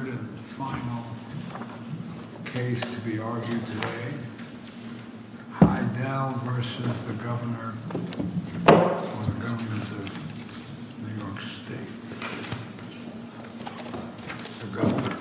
The third and final case to be argued today, Heidel v. the Governor of New York State, the Governor,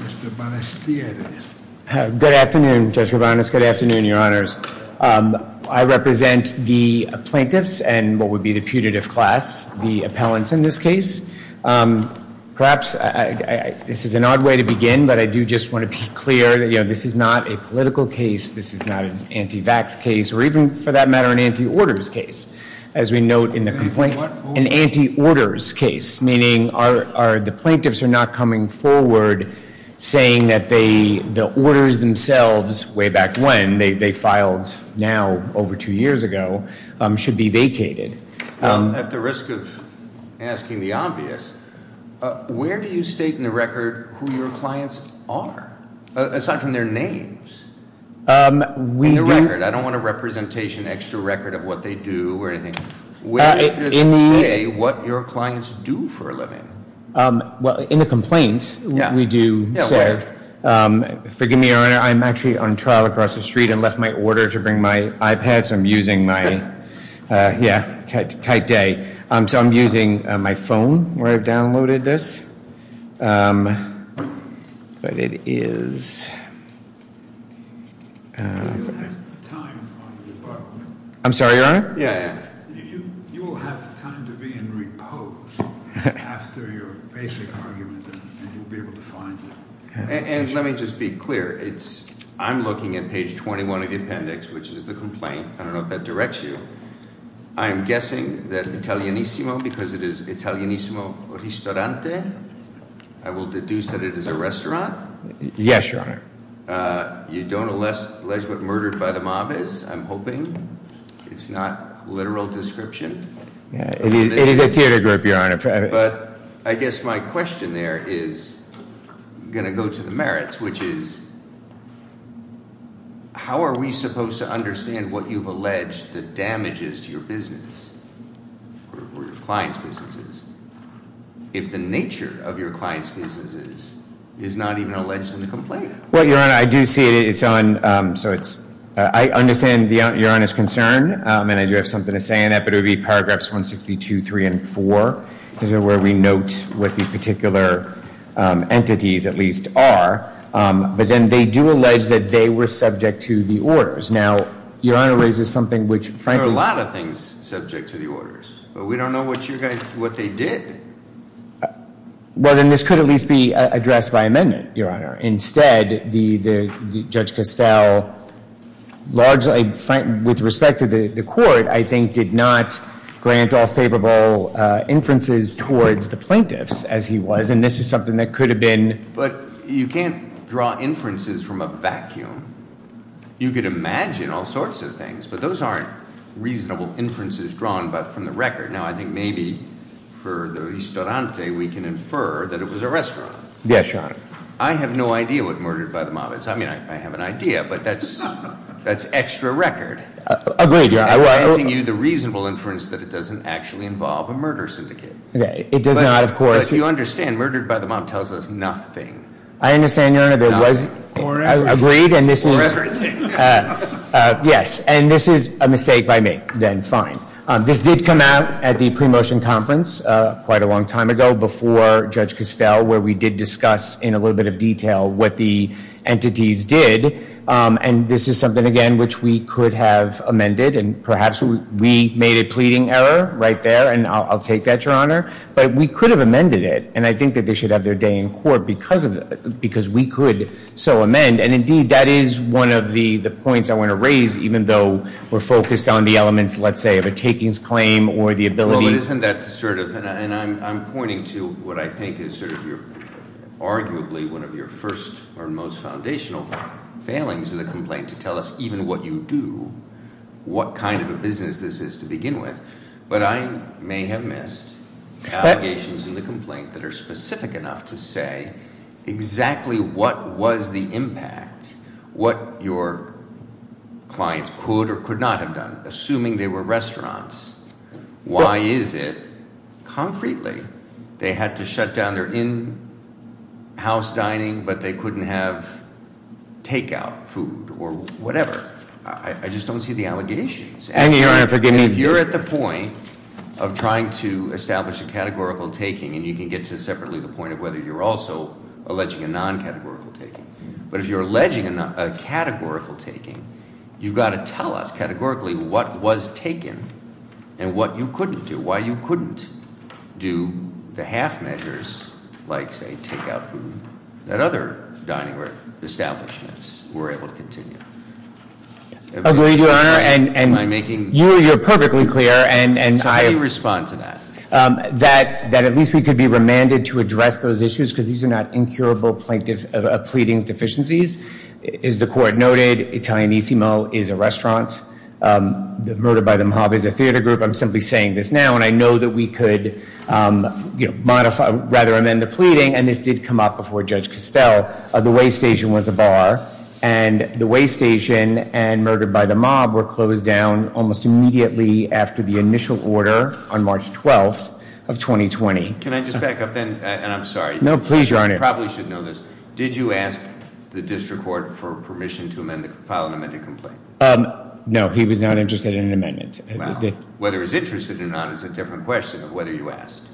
Mr. Banistieri. Good afternoon, Judge Robanus. Good afternoon, Your Honors. I represent the plaintiffs and what would be the putative class, the appellants in this case. Perhaps this is an odd way to begin, but I do just want to be clear that this is not a political case. This is not an anti-vax case or even, for that matter, an anti-orders case, as we note in the complaint. An anti-orders case, meaning the plaintiffs are not coming forward saying that the orders themselves, way back when, they filed now over two years ago, should be vacated. At the risk of asking the obvious, where do you state in the record who your clients are, aside from their names? In the record. I don't want a representation, extra record of what they do or anything. Where does it say what your clients do for a living? Well, in the complaint, we do say. Forgive me, Your Honor, I'm actually on trial across the street and left my order to bring my iPad, so I'm using my, yeah, tight day. So I'm using my phone where I've downloaded this. But it is... I'm sorry, Your Honor? You will have time to be in repose after your basic argument, and you'll be able to find it. And let me just be clear. I'm looking at page 21 of the appendix, which is the complaint. I don't know if that directs you. I'm guessing that Italianissimo, because it is Italianissimo Ristorante, I will deduce that it is a restaurant. Yes, Your Honor. You don't allege what murdered by the mob is, I'm hoping. It's not a literal description. It is a theater group, Your Honor. But I guess my question there is going to go to the merits, which is, how are we supposed to understand what you've alleged the damages to your business or your clients' businesses if the nature of your clients' businesses is not even alleged in the complaint? Well, Your Honor, I do see it. I understand Your Honor's concern, and I do have something to say on that, but it would be paragraphs 162, 3, and 4, where we note what the particular entities at least are. But then they do allege that they were subject to the orders. Now, Your Honor, is this something which, frankly... There are a lot of things subject to the orders, but we don't know what they did. Well, then this could at least be addressed by amendment, Your Honor. Instead, Judge Castell, largely with respect to the court, I think did not grant all favorable inferences towards the plaintiffs as he was, and this is something that could have been... But you can't draw inferences from a vacuum. You could imagine all sorts of things, but those aren't reasonable inferences drawn from the record. Now, I think maybe for the ristorante, we can infer that it was a restaurant. Yes, Your Honor. I have no idea what murdered by the mob is. I mean, I have an idea, but that's extra record. Agreed, Your Honor. I'm granting you the reasonable inference that it doesn't actually involve a murder syndicate. It does not, of course. But you understand murdered by the mob tells us nothing. I understand, Your Honor. It was agreed, and this is... Or everything. Yes, and this is a mistake by me. Then fine. This did come out at the pre-motion conference quite a long time ago before Judge Castell, where we did discuss in a little bit of detail what the entities did. And this is something, again, which we could have amended, and perhaps we made a pleading error right there, and I'll take that, Your Honor. But we could have amended it, and I think that they should have their day in court because we could so amend. And, indeed, that is one of the points I want to raise, even though we're focused on the elements, let's say, of a takings claim or the ability... Arguably one of your first or most foundational failings in the complaint to tell us even what you do, what kind of a business this is to begin with. But I may have missed allegations in the complaint that are specific enough to say exactly what was the impact, what your clients could or could not have done, assuming they were restaurants. Why is it? Concretely, they had to shut down their in-house dining, but they couldn't have takeout food or whatever. I just don't see the allegations. And, Your Honor, forgive me... If you're at the point of trying to establish a categorical taking, and you can get to separately the point of whether you're also alleging a non-categorical taking, but if you're alleging a categorical taking, you've got to tell us categorically what was taken and what you couldn't do, why you couldn't do the half measures like, say, takeout food that other dining establishments were able to continue. Agreed, Your Honor. Am I making... You're perfectly clear. So how do you respond to that? That at least we could be remanded to address those issues because these are not incurable pleadings deficiencies. As the Court noted, Italianissimo is a restaurant. Murdered by the Mojave is a theater group. I'm simply saying this now, and I know that we could rather amend the pleading, and this did come up before Judge Costell. The weigh station was a bar, and the weigh station and murdered by the mob were closed down almost immediately after the initial order on March 12th of 2020. Can I just back up then? And I'm sorry. No, please, Your Honor. You probably should know this. Did you ask the district court for permission to file an amended complaint? No, he was not interested in an amendment. Well, whether he was interested or not is a different question of whether you asked.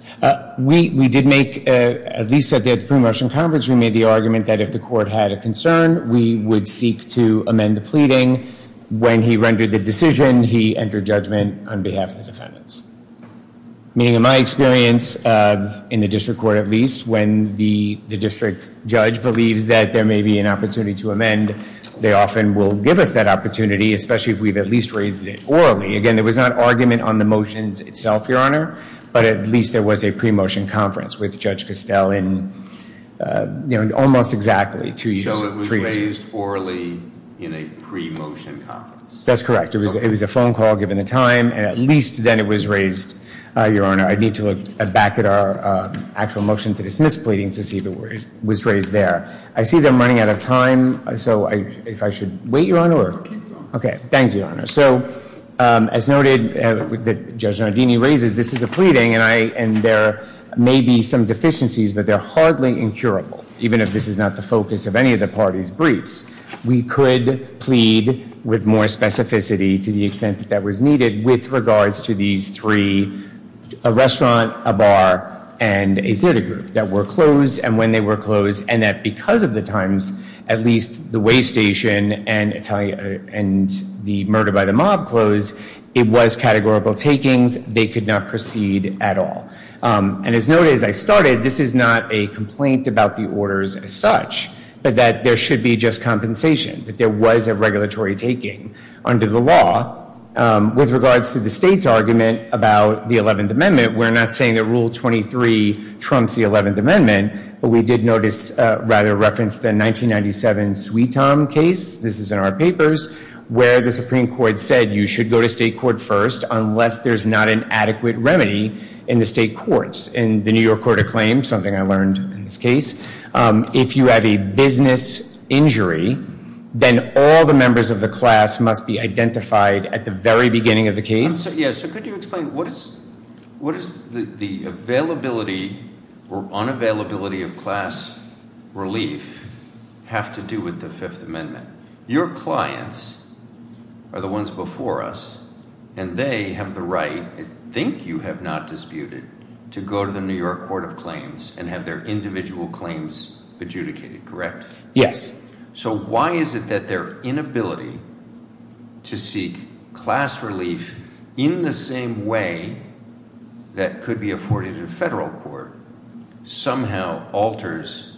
We did make, at least at the pre-motion conference, we made the argument that if the court had a concern, we would seek to amend the pleading. When he rendered the decision, he entered judgment on behalf of the defendants. Meaning in my experience, in the district court at least, when the district judge believes that there may be an opportunity to amend, they often will give us that opportunity, especially if we've at least raised it orally. Again, there was not argument on the motions itself, Your Honor, but at least there was a pre-motion conference with Judge Costell in almost exactly two years. So it was raised orally in a pre-motion conference? That's correct. It was a phone call given the time, and at least then it was raised, Your Honor. I need to look back at our actual motion to dismiss pleading to see if it was raised there. I see that I'm running out of time, so if I should wait, Your Honor? No, keep going. Okay, thank you, Your Honor. So as noted that Judge Nardini raises, this is a pleading, and there may be some deficiencies, but they're hardly incurable, even if this is not the focus of any of the party's briefs. We could plead with more specificity to the extent that that was needed with regards to these three, a restaurant, a bar, and a theater group that were closed and when they were closed, and that because of the times, at least the weigh station and the murder by the mob closed, it was categorical takings. They could not proceed at all. And as noted as I started, this is not a complaint about the orders as such, but that there should be just compensation, that there was a regulatory taking under the law. With regards to the state's argument about the 11th Amendment, we're not saying that Rule 23 trumps the 11th Amendment, but we did notice rather a reference to the 1997 Sweetom case, this is in our papers, where the Supreme Court said you should go to state court first unless there's not an adequate remedy in the state courts. In the New York Court of Claims, something I learned in this case, if you have a business injury, then all the members of the class must be identified at the very beginning of the case. So could you explain what is the availability or unavailability of class relief have to do with the Fifth Amendment? Your clients are the ones before us, and they have the right, I think you have not disputed, to go to the New York Court of Claims and have their individual claims adjudicated, correct? Yes. So why is it that their inability to seek class relief in the same way that could be afforded in a federal court somehow alters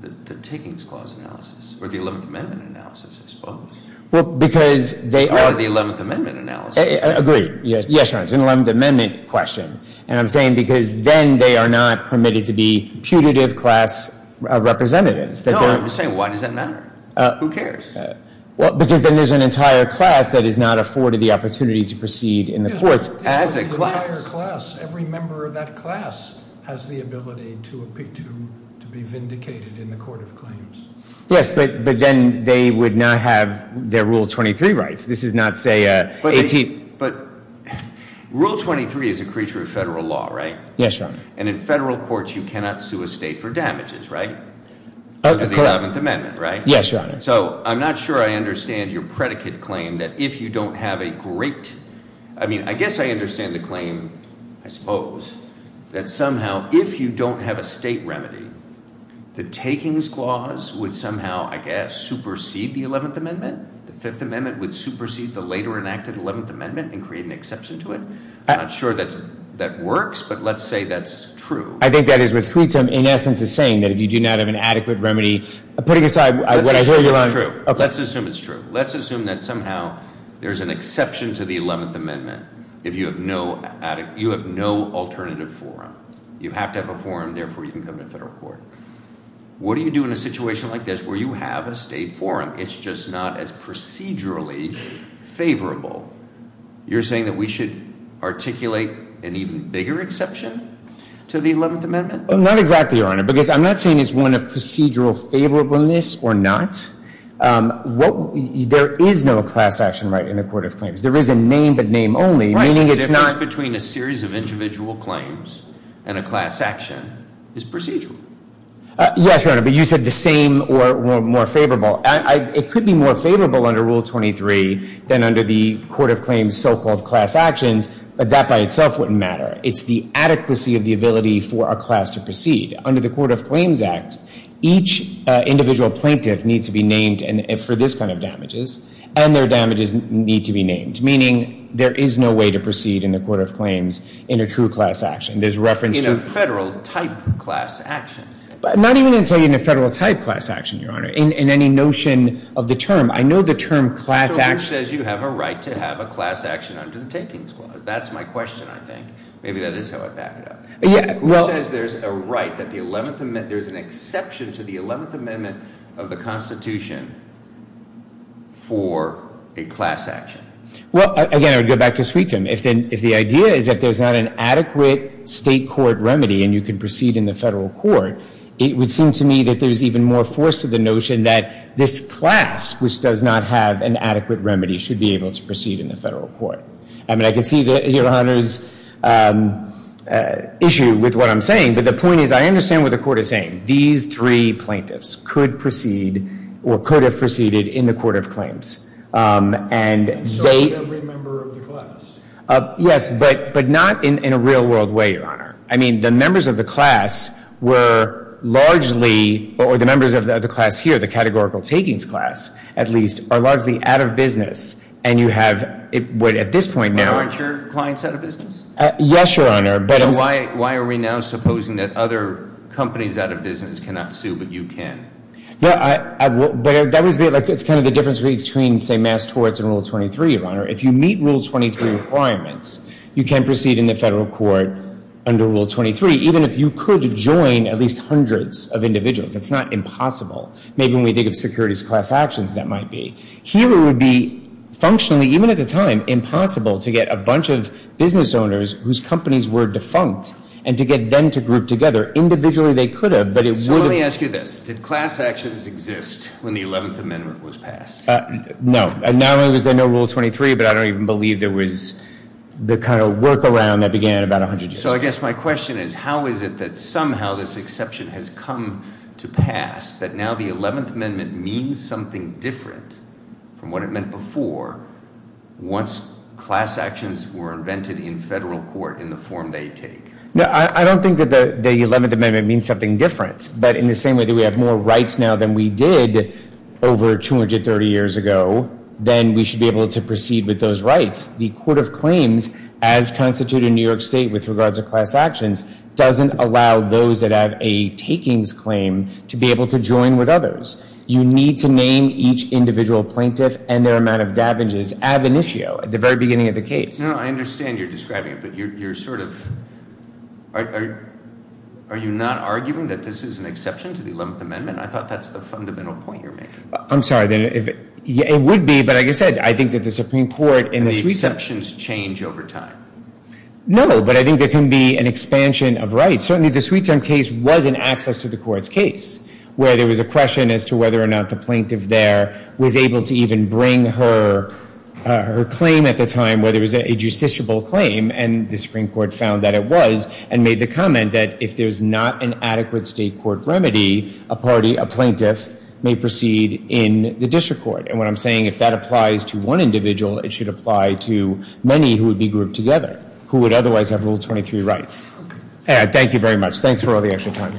the Takings Clause analysis, or the 11th Amendment analysis, I suppose? Well, because they are the 11th Amendment analysis. Agreed. Yes, Your Honor, it's an 11th Amendment question. And I'm saying because then they are not permitted to be putative class representatives. No, I'm just saying, why does that matter? Who cares? Well, because then there's an entire class that is not afforded the opportunity to proceed in the courts. As a class. As an entire class. Every member of that class has the ability to be vindicated in the Court of Claims. Yes, but then they would not have their Rule 23 rights. This is not, say, 18th. But Rule 23 is a creature of federal law, right? Yes, Your Honor. And in federal courts, you cannot sue a state for damages, right? Under the 11th Amendment, right? Yes, Your Honor. So I'm not sure I understand your predicate claim that if you don't have a great ‑‑ I mean, I guess I understand the claim, I suppose, that somehow if you don't have a state remedy, the Takings Clause would somehow, I guess, supersede the 11th Amendment? The Fifth Amendment would supersede the later enacted 11th Amendment and create an exception to it? I'm not sure that works, but let's say that's true. I think that is what Sweet's, in essence, is saying, that if you do not have an adequate remedy, putting aside what I hear you on. Let's assume it's true. Let's assume that somehow there's an exception to the 11th Amendment if you have no alternative forum. You have to have a forum. Therefore, you can come to federal court. What do you do in a situation like this where you have a state forum? It's just not as procedurally favorable. You're saying that we should articulate an even bigger exception to the 11th Amendment? Not exactly, Your Honor, because I'm not saying it's one of procedural favorableness or not. There is no class action right in the Court of Claims. There is a name but name only, meaning it's not ‑‑ Right, the difference between a series of individual claims and a class action is procedural. Yes, Your Honor, but you said the same or more favorable. It could be more favorable under Rule 23 than under the Court of Claims so-called class actions, but that by itself wouldn't matter. It's the adequacy of the ability for a class to proceed. Under the Court of Claims Act, each individual plaintiff needs to be named for this kind of damages, and their damages need to be named, meaning there is no way to proceed in the Court of Claims in a true class action. There's reference to ‑‑ In a federal type class action. Not even in a federal type class action, Your Honor. In any notion of the term. I know the term class action ‑‑ So who says you have a right to have a class action under the Takings Clause? That's my question, I think. Maybe that is how I back it up. Yeah, well ‑‑ Who says there's a right that the 11th ‑‑ there's an exception to the 11th Amendment of the Constitution for a class action? Well, again, I would go back to sweet time. If the idea is that there's not an adequate state court remedy and you can proceed in the federal court, it would seem to me that there's even more force to the notion that this class, which does not have an adequate remedy, should be able to proceed in the federal court. I mean, I can see that, Your Honor's issue with what I'm saying, but the point is I understand what the Court is saying. These three plaintiffs could proceed or could have proceeded in the Court of Claims. And they ‑‑ And so would every member of the class. Yes, but not in a real world way, Your Honor. I mean, the members of the class were largely, or the members of the class here, the categorical takings class, at least, are largely out of business. And you have, at this point now ‑‑ Aren't your clients out of business? Yes, Your Honor. Then why are we now supposing that other companies out of business cannot sue but you can? Yeah, but it's kind of the difference between, say, mass torts and Rule 23, Your Honor. If you meet Rule 23 requirements, you can proceed in the federal court under Rule 23, even if you could join at least hundreds of individuals. It's not impossible. Maybe when we think of securities class actions, that might be. Here it would be functionally, even at the time, impossible to get a bunch of business owners whose companies were defunct and to get them to group together. Individually they could have, but it would have ‑‑ So let me ask you this. Did class actions exist when the 11th Amendment was passed? No. Not only was there no Rule 23, but I don't even believe there was the kind of workaround that began about 100 years ago. So I guess my question is, how is it that somehow this exception has come to pass, that now the 11th Amendment means something different from what it meant before once class actions were invented in federal court in the form they take? I don't think that the 11th Amendment means something different, but in the same way that we have more rights now than we did over 230 years ago, then we should be able to proceed with those rights. The Court of Claims, as constituted in New York State with regards to class actions, doesn't allow those that have a takings claim to be able to join with others. You need to name each individual plaintiff and their amount of damages ab initio, at the very beginning of the case. I understand you're describing it, but you're sort of ‑‑ Are you not arguing that this is an exception to the 11th Amendment? I thought that's the fundamental point you're making. I'm sorry. It would be, but like I said, I think that the Supreme Court and the suite ‑‑ And the exceptions change over time. No, but I think there can be an expansion of rights. Certainly the Sweet Time case was an access to the court's case where there was a question as to whether or not the plaintiff there was able to even bring her claim at the time, whether it was a justiciable claim, and the Supreme Court found that it was and made the comment that if there's not an adequate state court remedy, a party, a plaintiff may proceed in the district court. And what I'm saying, if that applies to one individual, it should apply to many who would be grouped together who would otherwise have Rule 23 rights. Okay. Thank you very much. Thanks for all the extra time.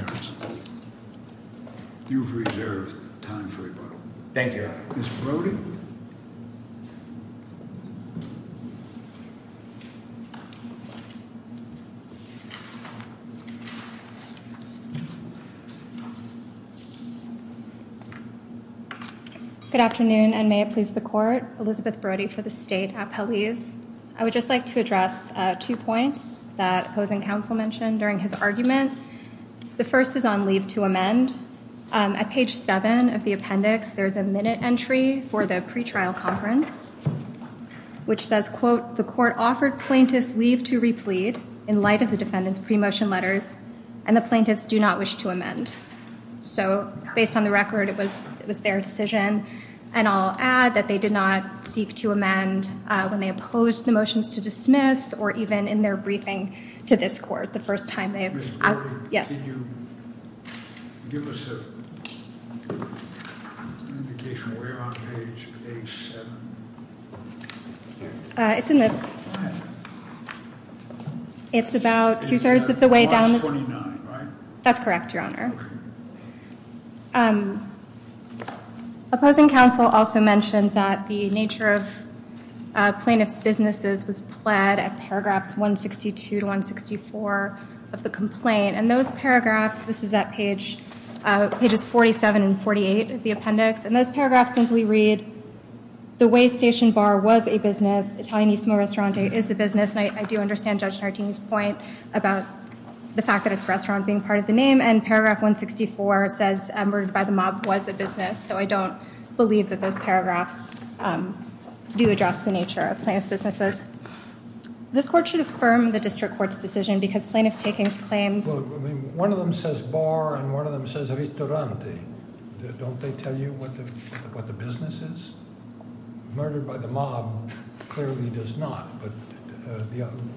You've reserved time for rebuttal. Thank you. Mr. Brody? Good afternoon, and may it please the court. Elizabeth Brody for the State Appellees. I would just like to address two points that opposing counsel mentioned during his argument. The first is on leave to amend. At page 7 of the appendix, there's a minute entry for the pretrial conference, which says, quote, the court offered plaintiffs leave to replead in light of the defendant's pre‑motion letters, and the plaintiffs do not wish to amend. So, based on the record, it was their decision. And I'll add that they did not seek to amend when they opposed the motions to dismiss or even in their briefing to this court the first time they asked. Ms. Brody? Yes. Can you give us an indication of where on page A7? It's in the ‑‑ Go ahead. It's about two‑thirds of the way down. It's on page 29, right? That's correct, Your Honor. Opposing counsel also mentioned that the nature of plaintiffs' businesses was pled at paragraphs 162 to 164 of the complaint, and those paragraphs, this is at pages 47 and 48 of the appendix, and those paragraphs simply read, the Way Station Bar was a business, Italianissimo Ristorante is a business, and I do understand Judge Nardini's point about the fact that it's a restaurant being part of the name, and paragraph 164 says murdered by the mob was a business, so I don't believe that those paragraphs do address the nature of plaintiffs' businesses. This court should affirm the district court's decision because plaintiff's takings claims ‑‑ One of them says bar and one of them says ristorante. Don't they tell you what the business is? Murdered by the mob clearly does not, but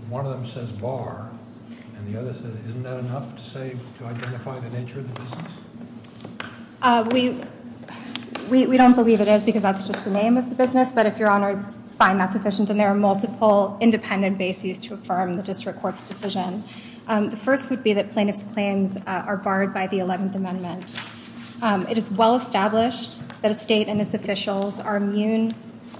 one of them says bar and the other says ‑‑ Isn't that enough to say, to identify the nature of the business? We don't believe it is because that's just the name of the business, but if Your Honor is fine, that's sufficient, and there are multiple independent bases to affirm the district court's decision. The first would be that plaintiffs' claims are barred by the 11th Amendment. It is well established that a state and its officials are immune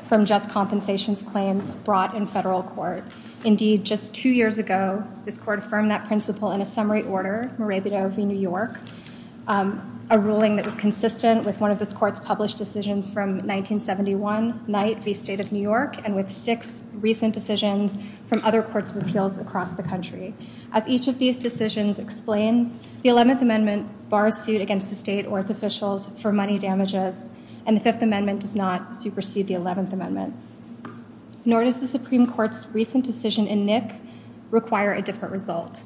from just compensations claims brought in federal court. Indeed, just two years ago, this court affirmed that principle in a summary order, Morabito v. New York, a ruling that was consistent with one of this court's published decisions from 1971, Knight v. State of New York, and with six recent decisions from other courts of appeals across the country. As each of these decisions explains, the 11th Amendment bars suit against a state or its officials for money damages, and the 5th Amendment does not supersede the 11th Amendment. Nor does the Supreme Court's recent decision in Nick require a different result.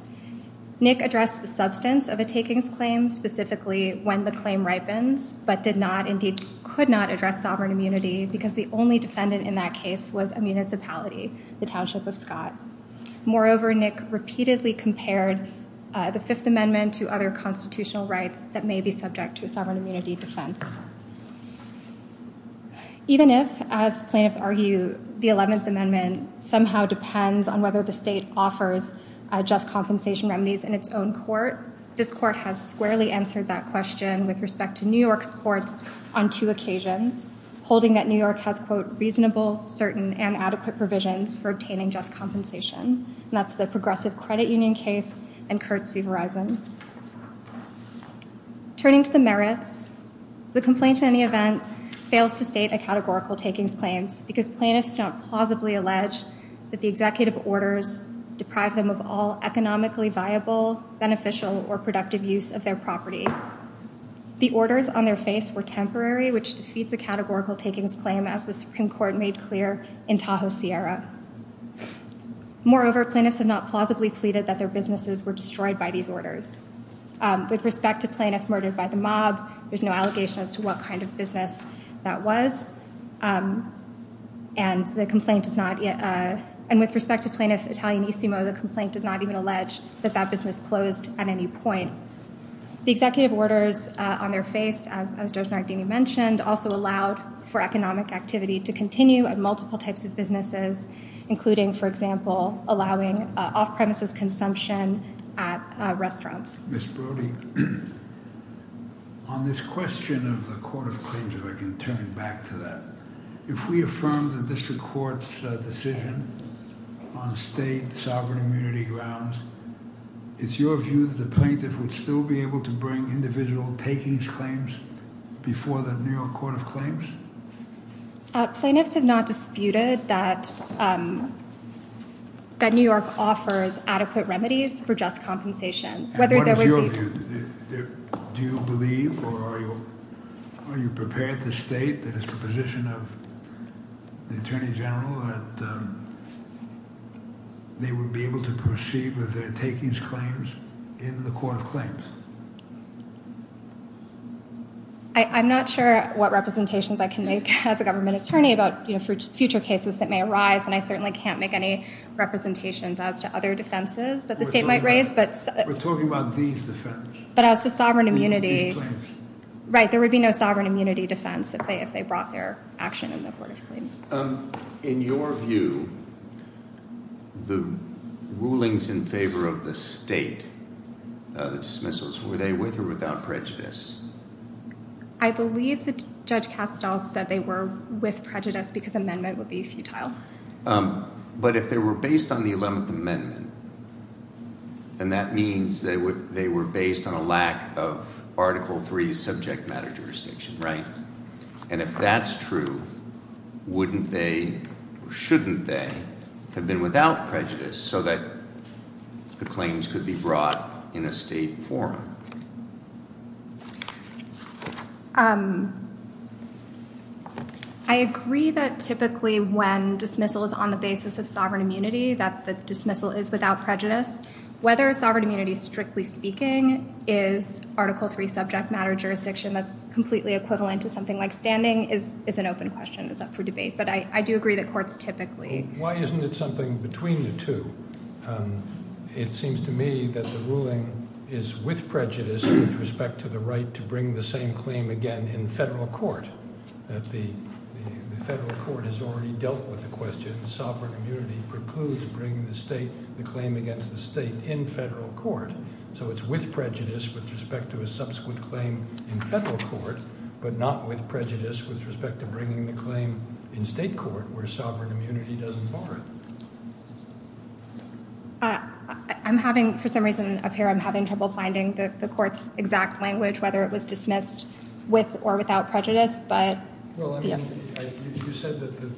Nick addressed the substance of a takings claim, specifically when the claim ripens, but did not, indeed could not, address sovereign immunity because the only defendant in that case was a municipality, the township of Scott. Moreover, Nick repeatedly compared the 5th Amendment to other constitutional rights that may be subject to a sovereign immunity defense. Even if, as plaintiffs argue, the 11th Amendment somehow depends on whether the state offers just compensation remedies in its own court, this court has squarely answered that question with respect to New York's courts on two occasions, holding that New York has, quote, reasonable, certain, and adequate provisions for obtaining just compensation. And that's the Progressive Credit Union case and Kurtz v. Verizon. Turning to the merits, the complaint, in any event, fails to state a categorical takings claim because plaintiffs do not plausibly allege that the executive orders deprive them of all economically viable, beneficial, or productive use of their property. The orders on their face were temporary, which defeats a categorical takings claim, as the Supreme Court made clear in Tahoe Sierra. Moreover, plaintiffs have not plausibly pleaded that their businesses were destroyed by these orders. With respect to plaintiff murdered by the mob, there's no allegation as to what kind of business that was. And the complaint does not yet, and with respect to plaintiff Italianissimo, the complaint does not even allege that that business closed at any point. The executive orders on their face, as Judge Nardini mentioned, also allowed for economic activity to continue at multiple types of businesses, including, for example, allowing off-premises consumption at restaurants. Ms. Brody, on this question of the court of claims, if I can turn back to that, if we affirm the district court's decision on state sovereign immunity grounds, it's your view that the plaintiff would still be able to bring individual takings claims before the New York court of claims? Plaintiffs have not disputed that New York offers adequate remedies for just compensation. And what is your view? Do you believe, or are you prepared to state that it's the position of the Attorney General that they would be able to proceed with their takings claims in the court of claims? I'm not sure what representations I can make as a government attorney about future cases that may arise, and I certainly can't make any representations as to other defenses that the state might raise. We're talking about these defenses. But as to sovereign immunity. These claims. Right, there would be no sovereign immunity defense if they brought their action in the court of claims. In your view, the rulings in favor of the state of the dismissals, were they with or without prejudice? I believe that Judge Kastel said they were with prejudice because amendment would be futile. But if they were based on the 11th Amendment, then that means they were based on a lack of Article III subject matter jurisdiction, right? And if that's true, wouldn't they, or shouldn't they, have been without prejudice so that the claims could be brought in a state forum? I agree that typically when dismissal is on the basis of sovereign immunity that the dismissal is without prejudice. Whether sovereign immunity, strictly speaking, is Article III subject matter jurisdiction that's completely equivalent to something like standing is an open question. It's up for debate. But I do agree that courts typically. Why isn't it something between the two? It seems to me that the ruling is with prejudice with respect to the right to bring the same claim again in federal court. The federal court has already dealt with the question. Sovereign immunity precludes bringing the state, the claim against the state in federal court. So it's with prejudice with respect to a subsequent claim in federal court, but not with prejudice with respect to bringing the claim in state court where sovereign immunity doesn't bar it. I'm having, for some reason up here, I'm having trouble finding the court's exact language whether it was dismissed with or without prejudice. Well, you said that the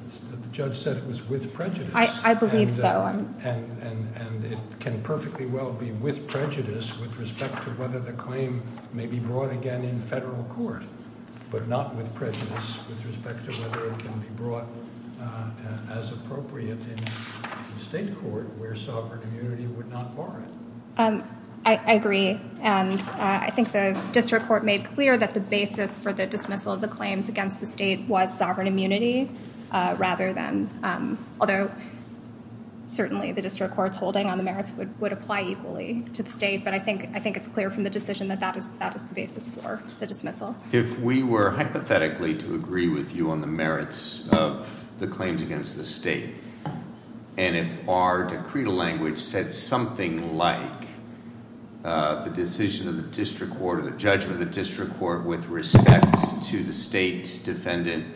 judge said it was with prejudice. I believe so. And it can perfectly well be with prejudice with respect to whether the claim may be brought again in federal court, but not with prejudice with respect to whether it can be brought as appropriate in state court where sovereign immunity would not bar it. I agree. And I think the district court made clear that the basis for the dismissal of the claims against the state was sovereign immunity rather than, although certainly the district court's holding on the merits would apply equally to the state. But I think it's clear from the decision that that is the basis for the dismissal. If we were hypothetically to agree with you on the merits of the claims against the state and if our decreed language said something like the decision of the district court or the judgment of the district court with respect to the state defendant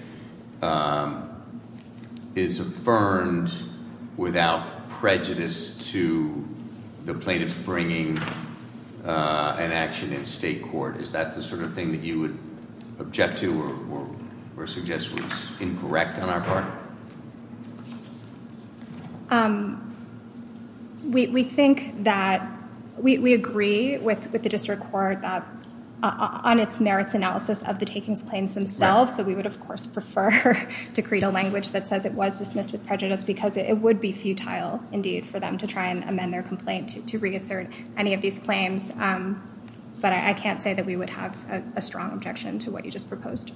is affirmed without prejudice to the plaintiff bringing an action in state court, is that the sort of thing that you would object to or suggest was incorrect on our part? We think that we agree with the district court on its merits analysis of the takings claims themselves. So we would, of course, prefer to create a language that says it was dismissed with prejudice because it would be futile, indeed, for them to try and amend their complaint to reassert any of these claims. But I can't say that we would have a strong objection to what you just proposed.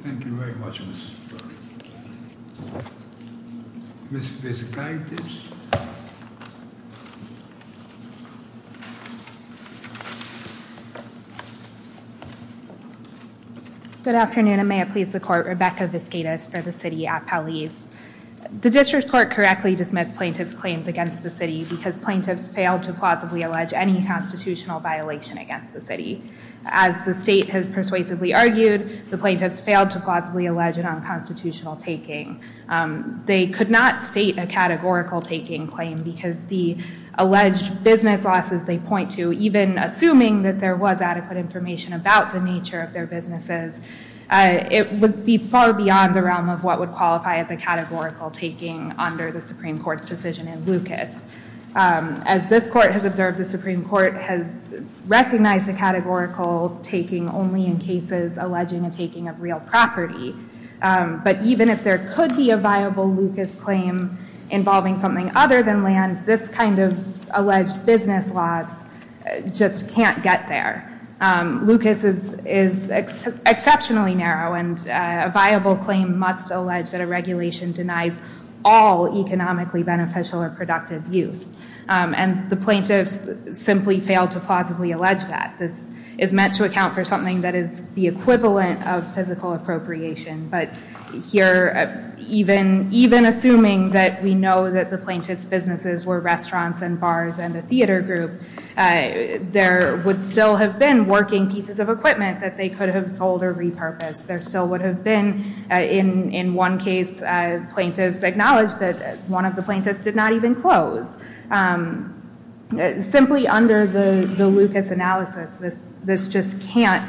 Thank you very much, Ms. Burke. Ms. Vizgaitis? Good afternoon, and may it please the court, Rebecca Vizgaitis for the city at Palais. The district court correctly dismissed plaintiff's claims against the city because plaintiffs failed to plausibly allege any constitutional violation against the city. As the state has persuasively argued, the plaintiffs failed to plausibly allege an unconstitutional taking. They could not state a categorical taking claim because the alleged business losses they point to, even assuming that there was adequate information about the nature of their businesses, it would be far beyond the realm of what would qualify as a categorical taking under the Supreme Court's decision in Lucas. As this court has observed, the Supreme Court has recognized a categorical taking only in cases alleging a taking of real property. But even if there could be a viable Lucas claim involving something other than land, this kind of alleged business loss just can't get there. Lucas is exceptionally narrow, and a viable claim must allege that a regulation denies all economically beneficial or productive use. And the plaintiffs simply failed to plausibly allege that. This is meant to account for something that is the equivalent of physical appropriation. But here, even assuming that we know that the plaintiff's businesses were restaurants and bars and a theater group, there would still have been working pieces of equipment that they could have sold or repurposed. There still would have been, in one case, plaintiffs acknowledged that one of the plaintiffs did not even close. Simply under the Lucas analysis, this just can't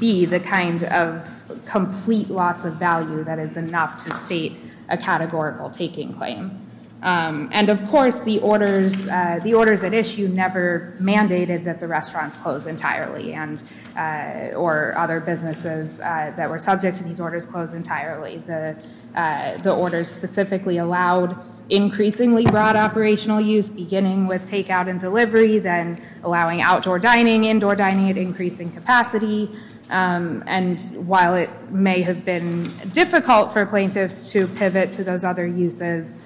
be the kind of complete loss of value that is enough to state a categorical taking claim. And of course, the orders at issue never mandated that the restaurants close entirely or other businesses that were subject to these orders close entirely. The orders specifically allowed increasingly broad operational use, beginning with takeout and delivery, then allowing outdoor dining, indoor dining at increasing capacity. And while it may have been difficult for plaintiffs to pivot to those other uses,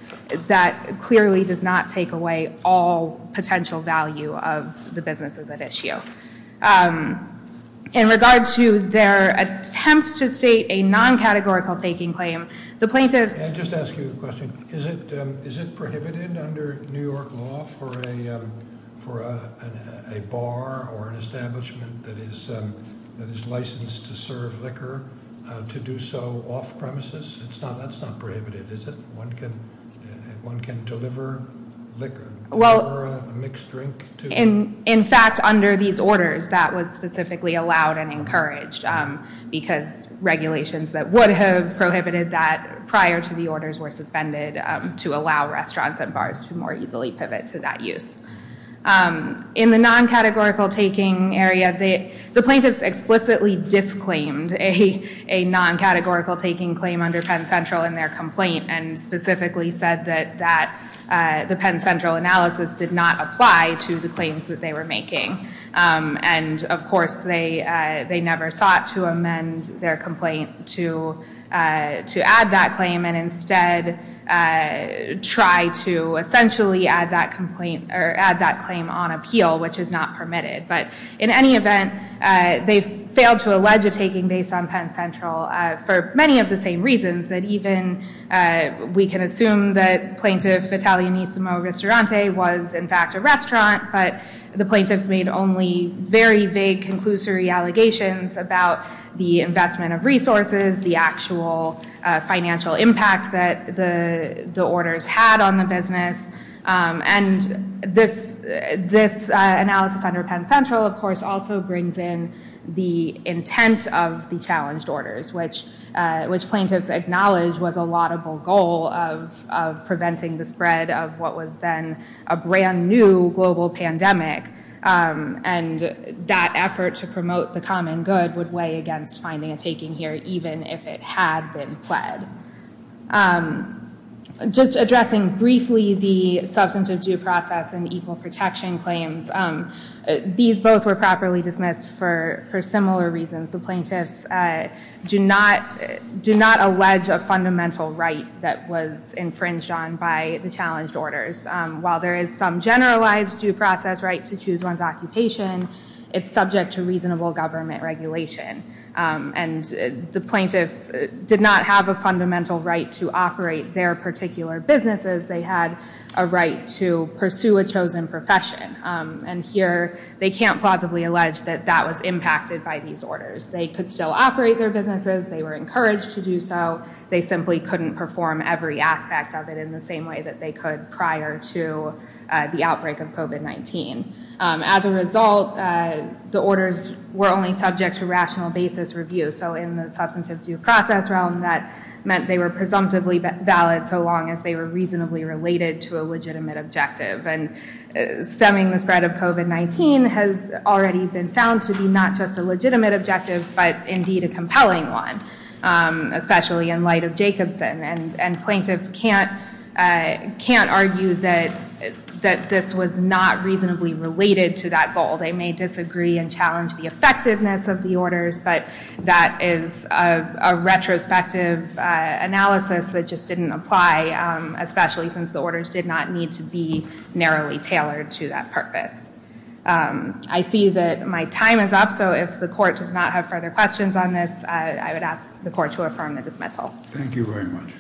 that clearly does not take away all potential value of the businesses at issue. In regard to their attempt to state a non-categorical taking claim, the plaintiffs... Can I just ask you a question? Is it prohibited under New York law for a bar or an establishment that is licensed to serve liquor to do so off-premises? That's not prohibited, is it? One can deliver liquor or a mixed drink to... In fact, under these orders, that was specifically allowed and encouraged because regulations that would have prohibited that prior to the orders were suspended to allow restaurants and bars to more easily pivot to that use. In the non-categorical taking area, the plaintiffs explicitly disclaimed a non-categorical taking claim under Penn Central in their complaint and specifically said that the Penn Central analysis did not apply to the claims that they were making. And of course, they never sought to amend their complaint to add that claim and instead try to essentially add that complaint or add that claim on appeal, which is not permitted. But in any event, they failed to allege a taking based on Penn Central for many of the same reasons that even... The plaintiff Italianissimo Ristorante was in fact a restaurant, but the plaintiffs made only very vague conclusory allegations about the investment of resources, the actual financial impact that the orders had on the business. And this analysis under Penn Central, of course, also brings in the intent of the challenged orders, which plaintiffs acknowledged was a laudable goal of preventing the spread of what was then a brand new global pandemic. And that effort to promote the common good would weigh against finding a taking here even if it had been pled. Just addressing briefly the substantive due process and equal protection claims, these both were properly dismissed for similar reasons. The plaintiffs do not allege a fundamental right that was infringed on by the challenged orders. While there is some generalized due process right to choose one's occupation, it's subject to reasonable government regulation. And the plaintiffs did not have a fundamental right to operate their particular businesses. They had a right to pursue a chosen profession. And here they can't plausibly allege that that was impacted by these orders. They could still operate their businesses. They were encouraged to do so. They simply couldn't perform every aspect of it in the same way that they could prior to the outbreak of COVID-19. As a result, the orders were only subject to rational basis review. So in the substantive due process realm, that meant they were presumptively valid so long as they were reasonably related to a legitimate objective. And stemming the spread of COVID-19 has already been found to be not just a legitimate objective, but indeed a compelling one, especially in light of Jacobson. And plaintiffs can't argue that this was not reasonably related to that goal. They may disagree and challenge the effectiveness of the orders, but that is a retrospective analysis that just didn't apply, especially since the orders did not need to be narrowly tailored to that purpose. I see that my time is up, so if the court does not have further questions on this, I would ask the court to affirm the dismissal. Thank you very much.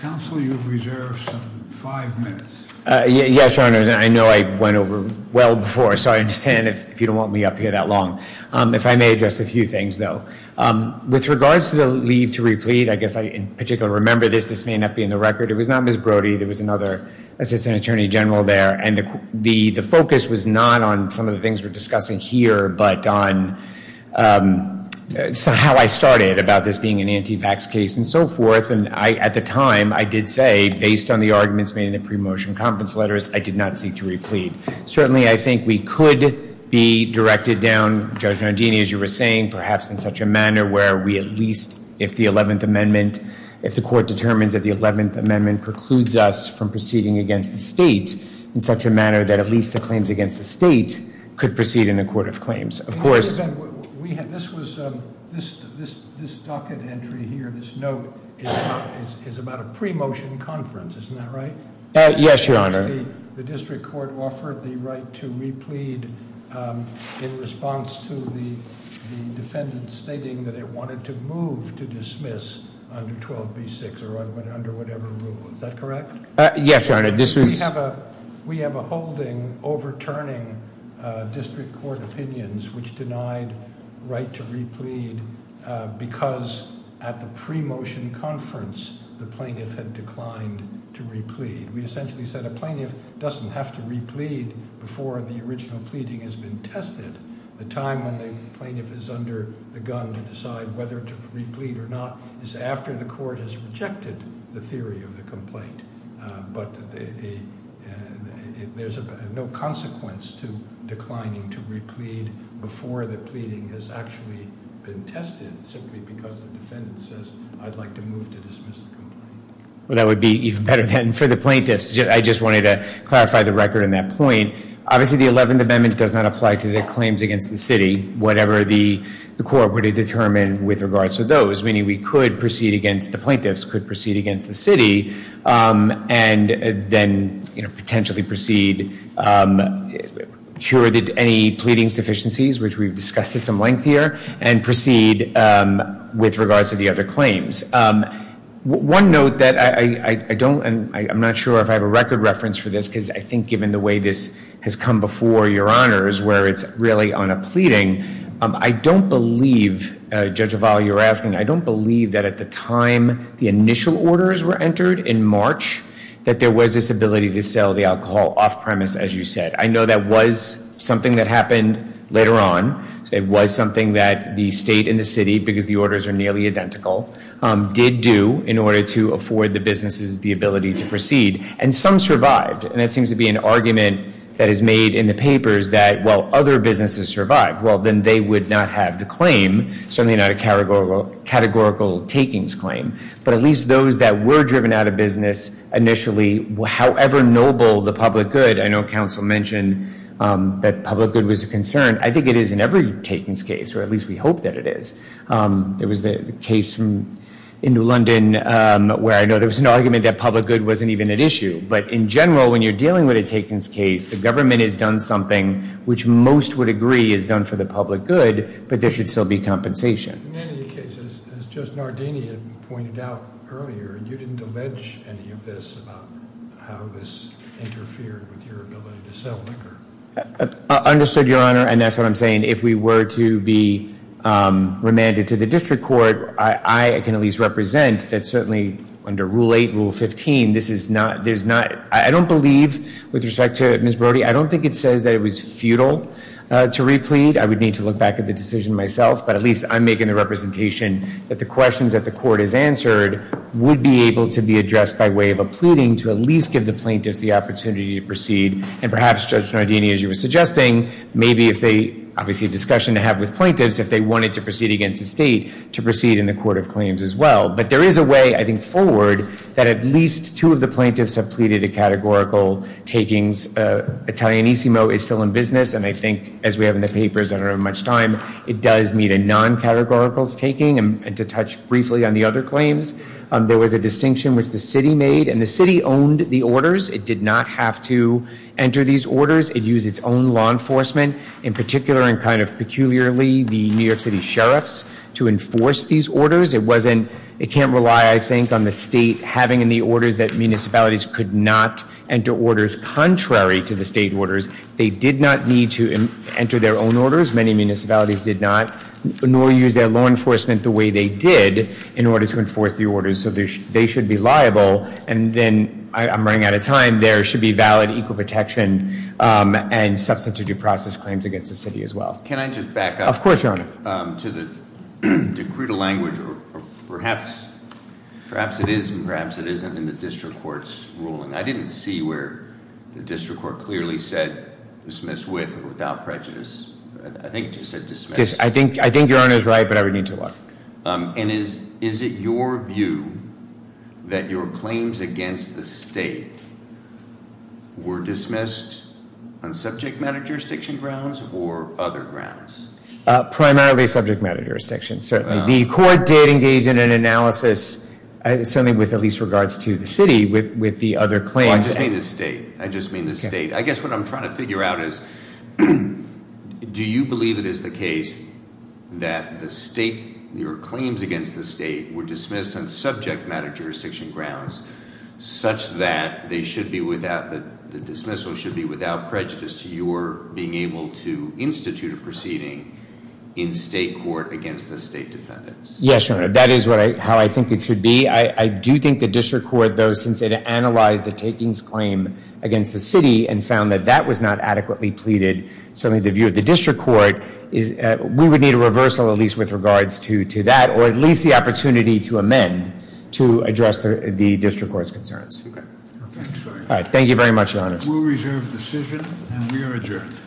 Counsel, you have reserved five minutes. Yes, Your Honor. I know I went over well before, so I understand if you don't want me up here that long. If I may address a few things, though. With regards to the leave to replete, I guess I in particular remember this. This may not be in the record. It was not Ms. Brody. There was another assistant attorney general there, and the focus was not on some of the things we're discussing here, but on how I started about this being an anti-tax case and so forth. At the time, I did say, based on the arguments made in the pre-motion conference letters, I did not seek to replete. Certainly, I think we could be directed down, Judge Nodini, as you were saying, perhaps in such a manner where we at least, if the 11th Amendment, if the court determines that the 11th Amendment precludes us from proceeding against the state in such a manner that at least the claims against the state could proceed in a court of claims. Of course... This docket entry here, this note, is about a pre-motion conference. Isn't that right? Yes, Your Honor. The district court offered the right to replete in response to the defendant stating that it wanted to move to dismiss under 12b-6 or under whatever rule. Is that correct? Yes, Your Honor. We have a holding overturning district court opinions which denied right to replete because at the pre-motion conference, the plaintiff had declined to replete. We essentially said a plaintiff doesn't have to replete before the original pleading has been tested. The time when the plaintiff is under the gun to decide whether to replete or not is after the court has rejected the theory of the complaint. But there's no consequence to declining to replete before the pleading has actually been tested simply because the defendant says I'd like to move to dismiss the complaint. Well, that would be even better then for the plaintiffs. I just wanted to clarify the record on that point. Obviously, the 11th Amendment does not apply to the claims against the city, whatever the court were to determine with regards to those, meaning we could proceed against the plaintiffs, could proceed against the city. And then, you know, potentially proceed sure that any pleadings deficiencies, which we've discussed at some length here, and proceed with regards to the other claims. One note that I don't, and I'm not sure if I have a record reference for this because I think given the way this has come before Your Honors where it's really on a pleading, I don't believe, Judge Oval, you're asking, I don't believe that at the time the initial orders were entered in March that there was this ability to sell the alcohol off premise, as you said. I know that was something that happened later on. It was something that the state and the city, because the orders are nearly identical, did do in order to afford the businesses the ability to proceed. And some survived. And that seems to be an argument that is made in the papers that while other businesses survived, well, then they would not have the claim, certainly not a categorical takings claim. But at least those that were driven out of business initially, however noble the public good, I know counsel mentioned that public good was a concern. I think it is in every takings case, or at least we hope that it is. There was the case in New London where I know there was an argument that public good wasn't even at issue. But in general, when you're dealing with a takings case, the government has done something which most would agree is done for the public good, but there should still be compensation. In any case, as Judge Nardini had pointed out earlier, you didn't allege any of this about how this interfered with your ability to sell liquor. Understood, Your Honor, and that's what I'm saying. If we were to be remanded to the district court, I can at least represent that certainly under Rule 8, Rule 15, this is not, there's not, I don't believe with respect to Ms. Brody, I don't think it says that it was futile to replete. I would need to look back at the decision myself, but at least I'm making the representation that the questions that the court has answered would be able to be addressed by way of a pleading to at least give the plaintiffs the opportunity to proceed. And perhaps, Judge Nardini, as you were suggesting, maybe if they, obviously a discussion to have with plaintiffs if they wanted to proceed against the state to proceed in the court of claims as well. But there is a way, I think, forward that at least two of the plaintiffs have pleaded a categorical takings. Italianissimo is still in business, and I think as we have in the papers, I don't have much time, it does meet a non-categorical taking, and to touch briefly on the other claims, there was a distinction which the city made, and the city owned the orders. It did not have to enter these orders. It used its own law enforcement, in particular and kind of peculiarly the New York City sheriffs to enforce these orders. It wasn't, it can't rely, I think, on the state having in the orders that municipalities could not enter orders contrary to the state orders. They did not need to enter their own orders. Many municipalities did not, nor use their law enforcement the way they did in order to enforce the orders, so they should be liable, and then, I'm running out of time, there should be valid equal protection and substantive due process claims against the city as well. Can I just back up? Of course, Your Honor. To the decretal language, perhaps it is and perhaps it isn't in the district court's ruling. I didn't see where the district court clearly said I think it just said dismissed. I think Your Honor's right, but I would need to look. Is it your view that your claims against the state were dismissed on subject matter jurisdiction grounds or other grounds? Primarily subject matter jurisdiction, certainly. The court did engage in an analysis, certainly with at least regards to the city, with the other claims. I just mean the state. I guess what I'm trying to figure out is do you believe it is the case that your claims against the state were dismissed on subject matter jurisdiction grounds such that the dismissal should be without prejudice to your being able to institute a proceeding in state court against the state defendants? Yes, Your Honor. That is how I think it should be. I do think the district court, though, since it analyzed the takings claim against the city and found that that was not adequately pleaded, certainly the view of the district court, we would need a reversal at least with regards to that or at least the opportunity to amend to address the district court's concerns. Okay. Thank you very much, Your Honor. We'll reserve the decision, and we are adjourned. Thank you.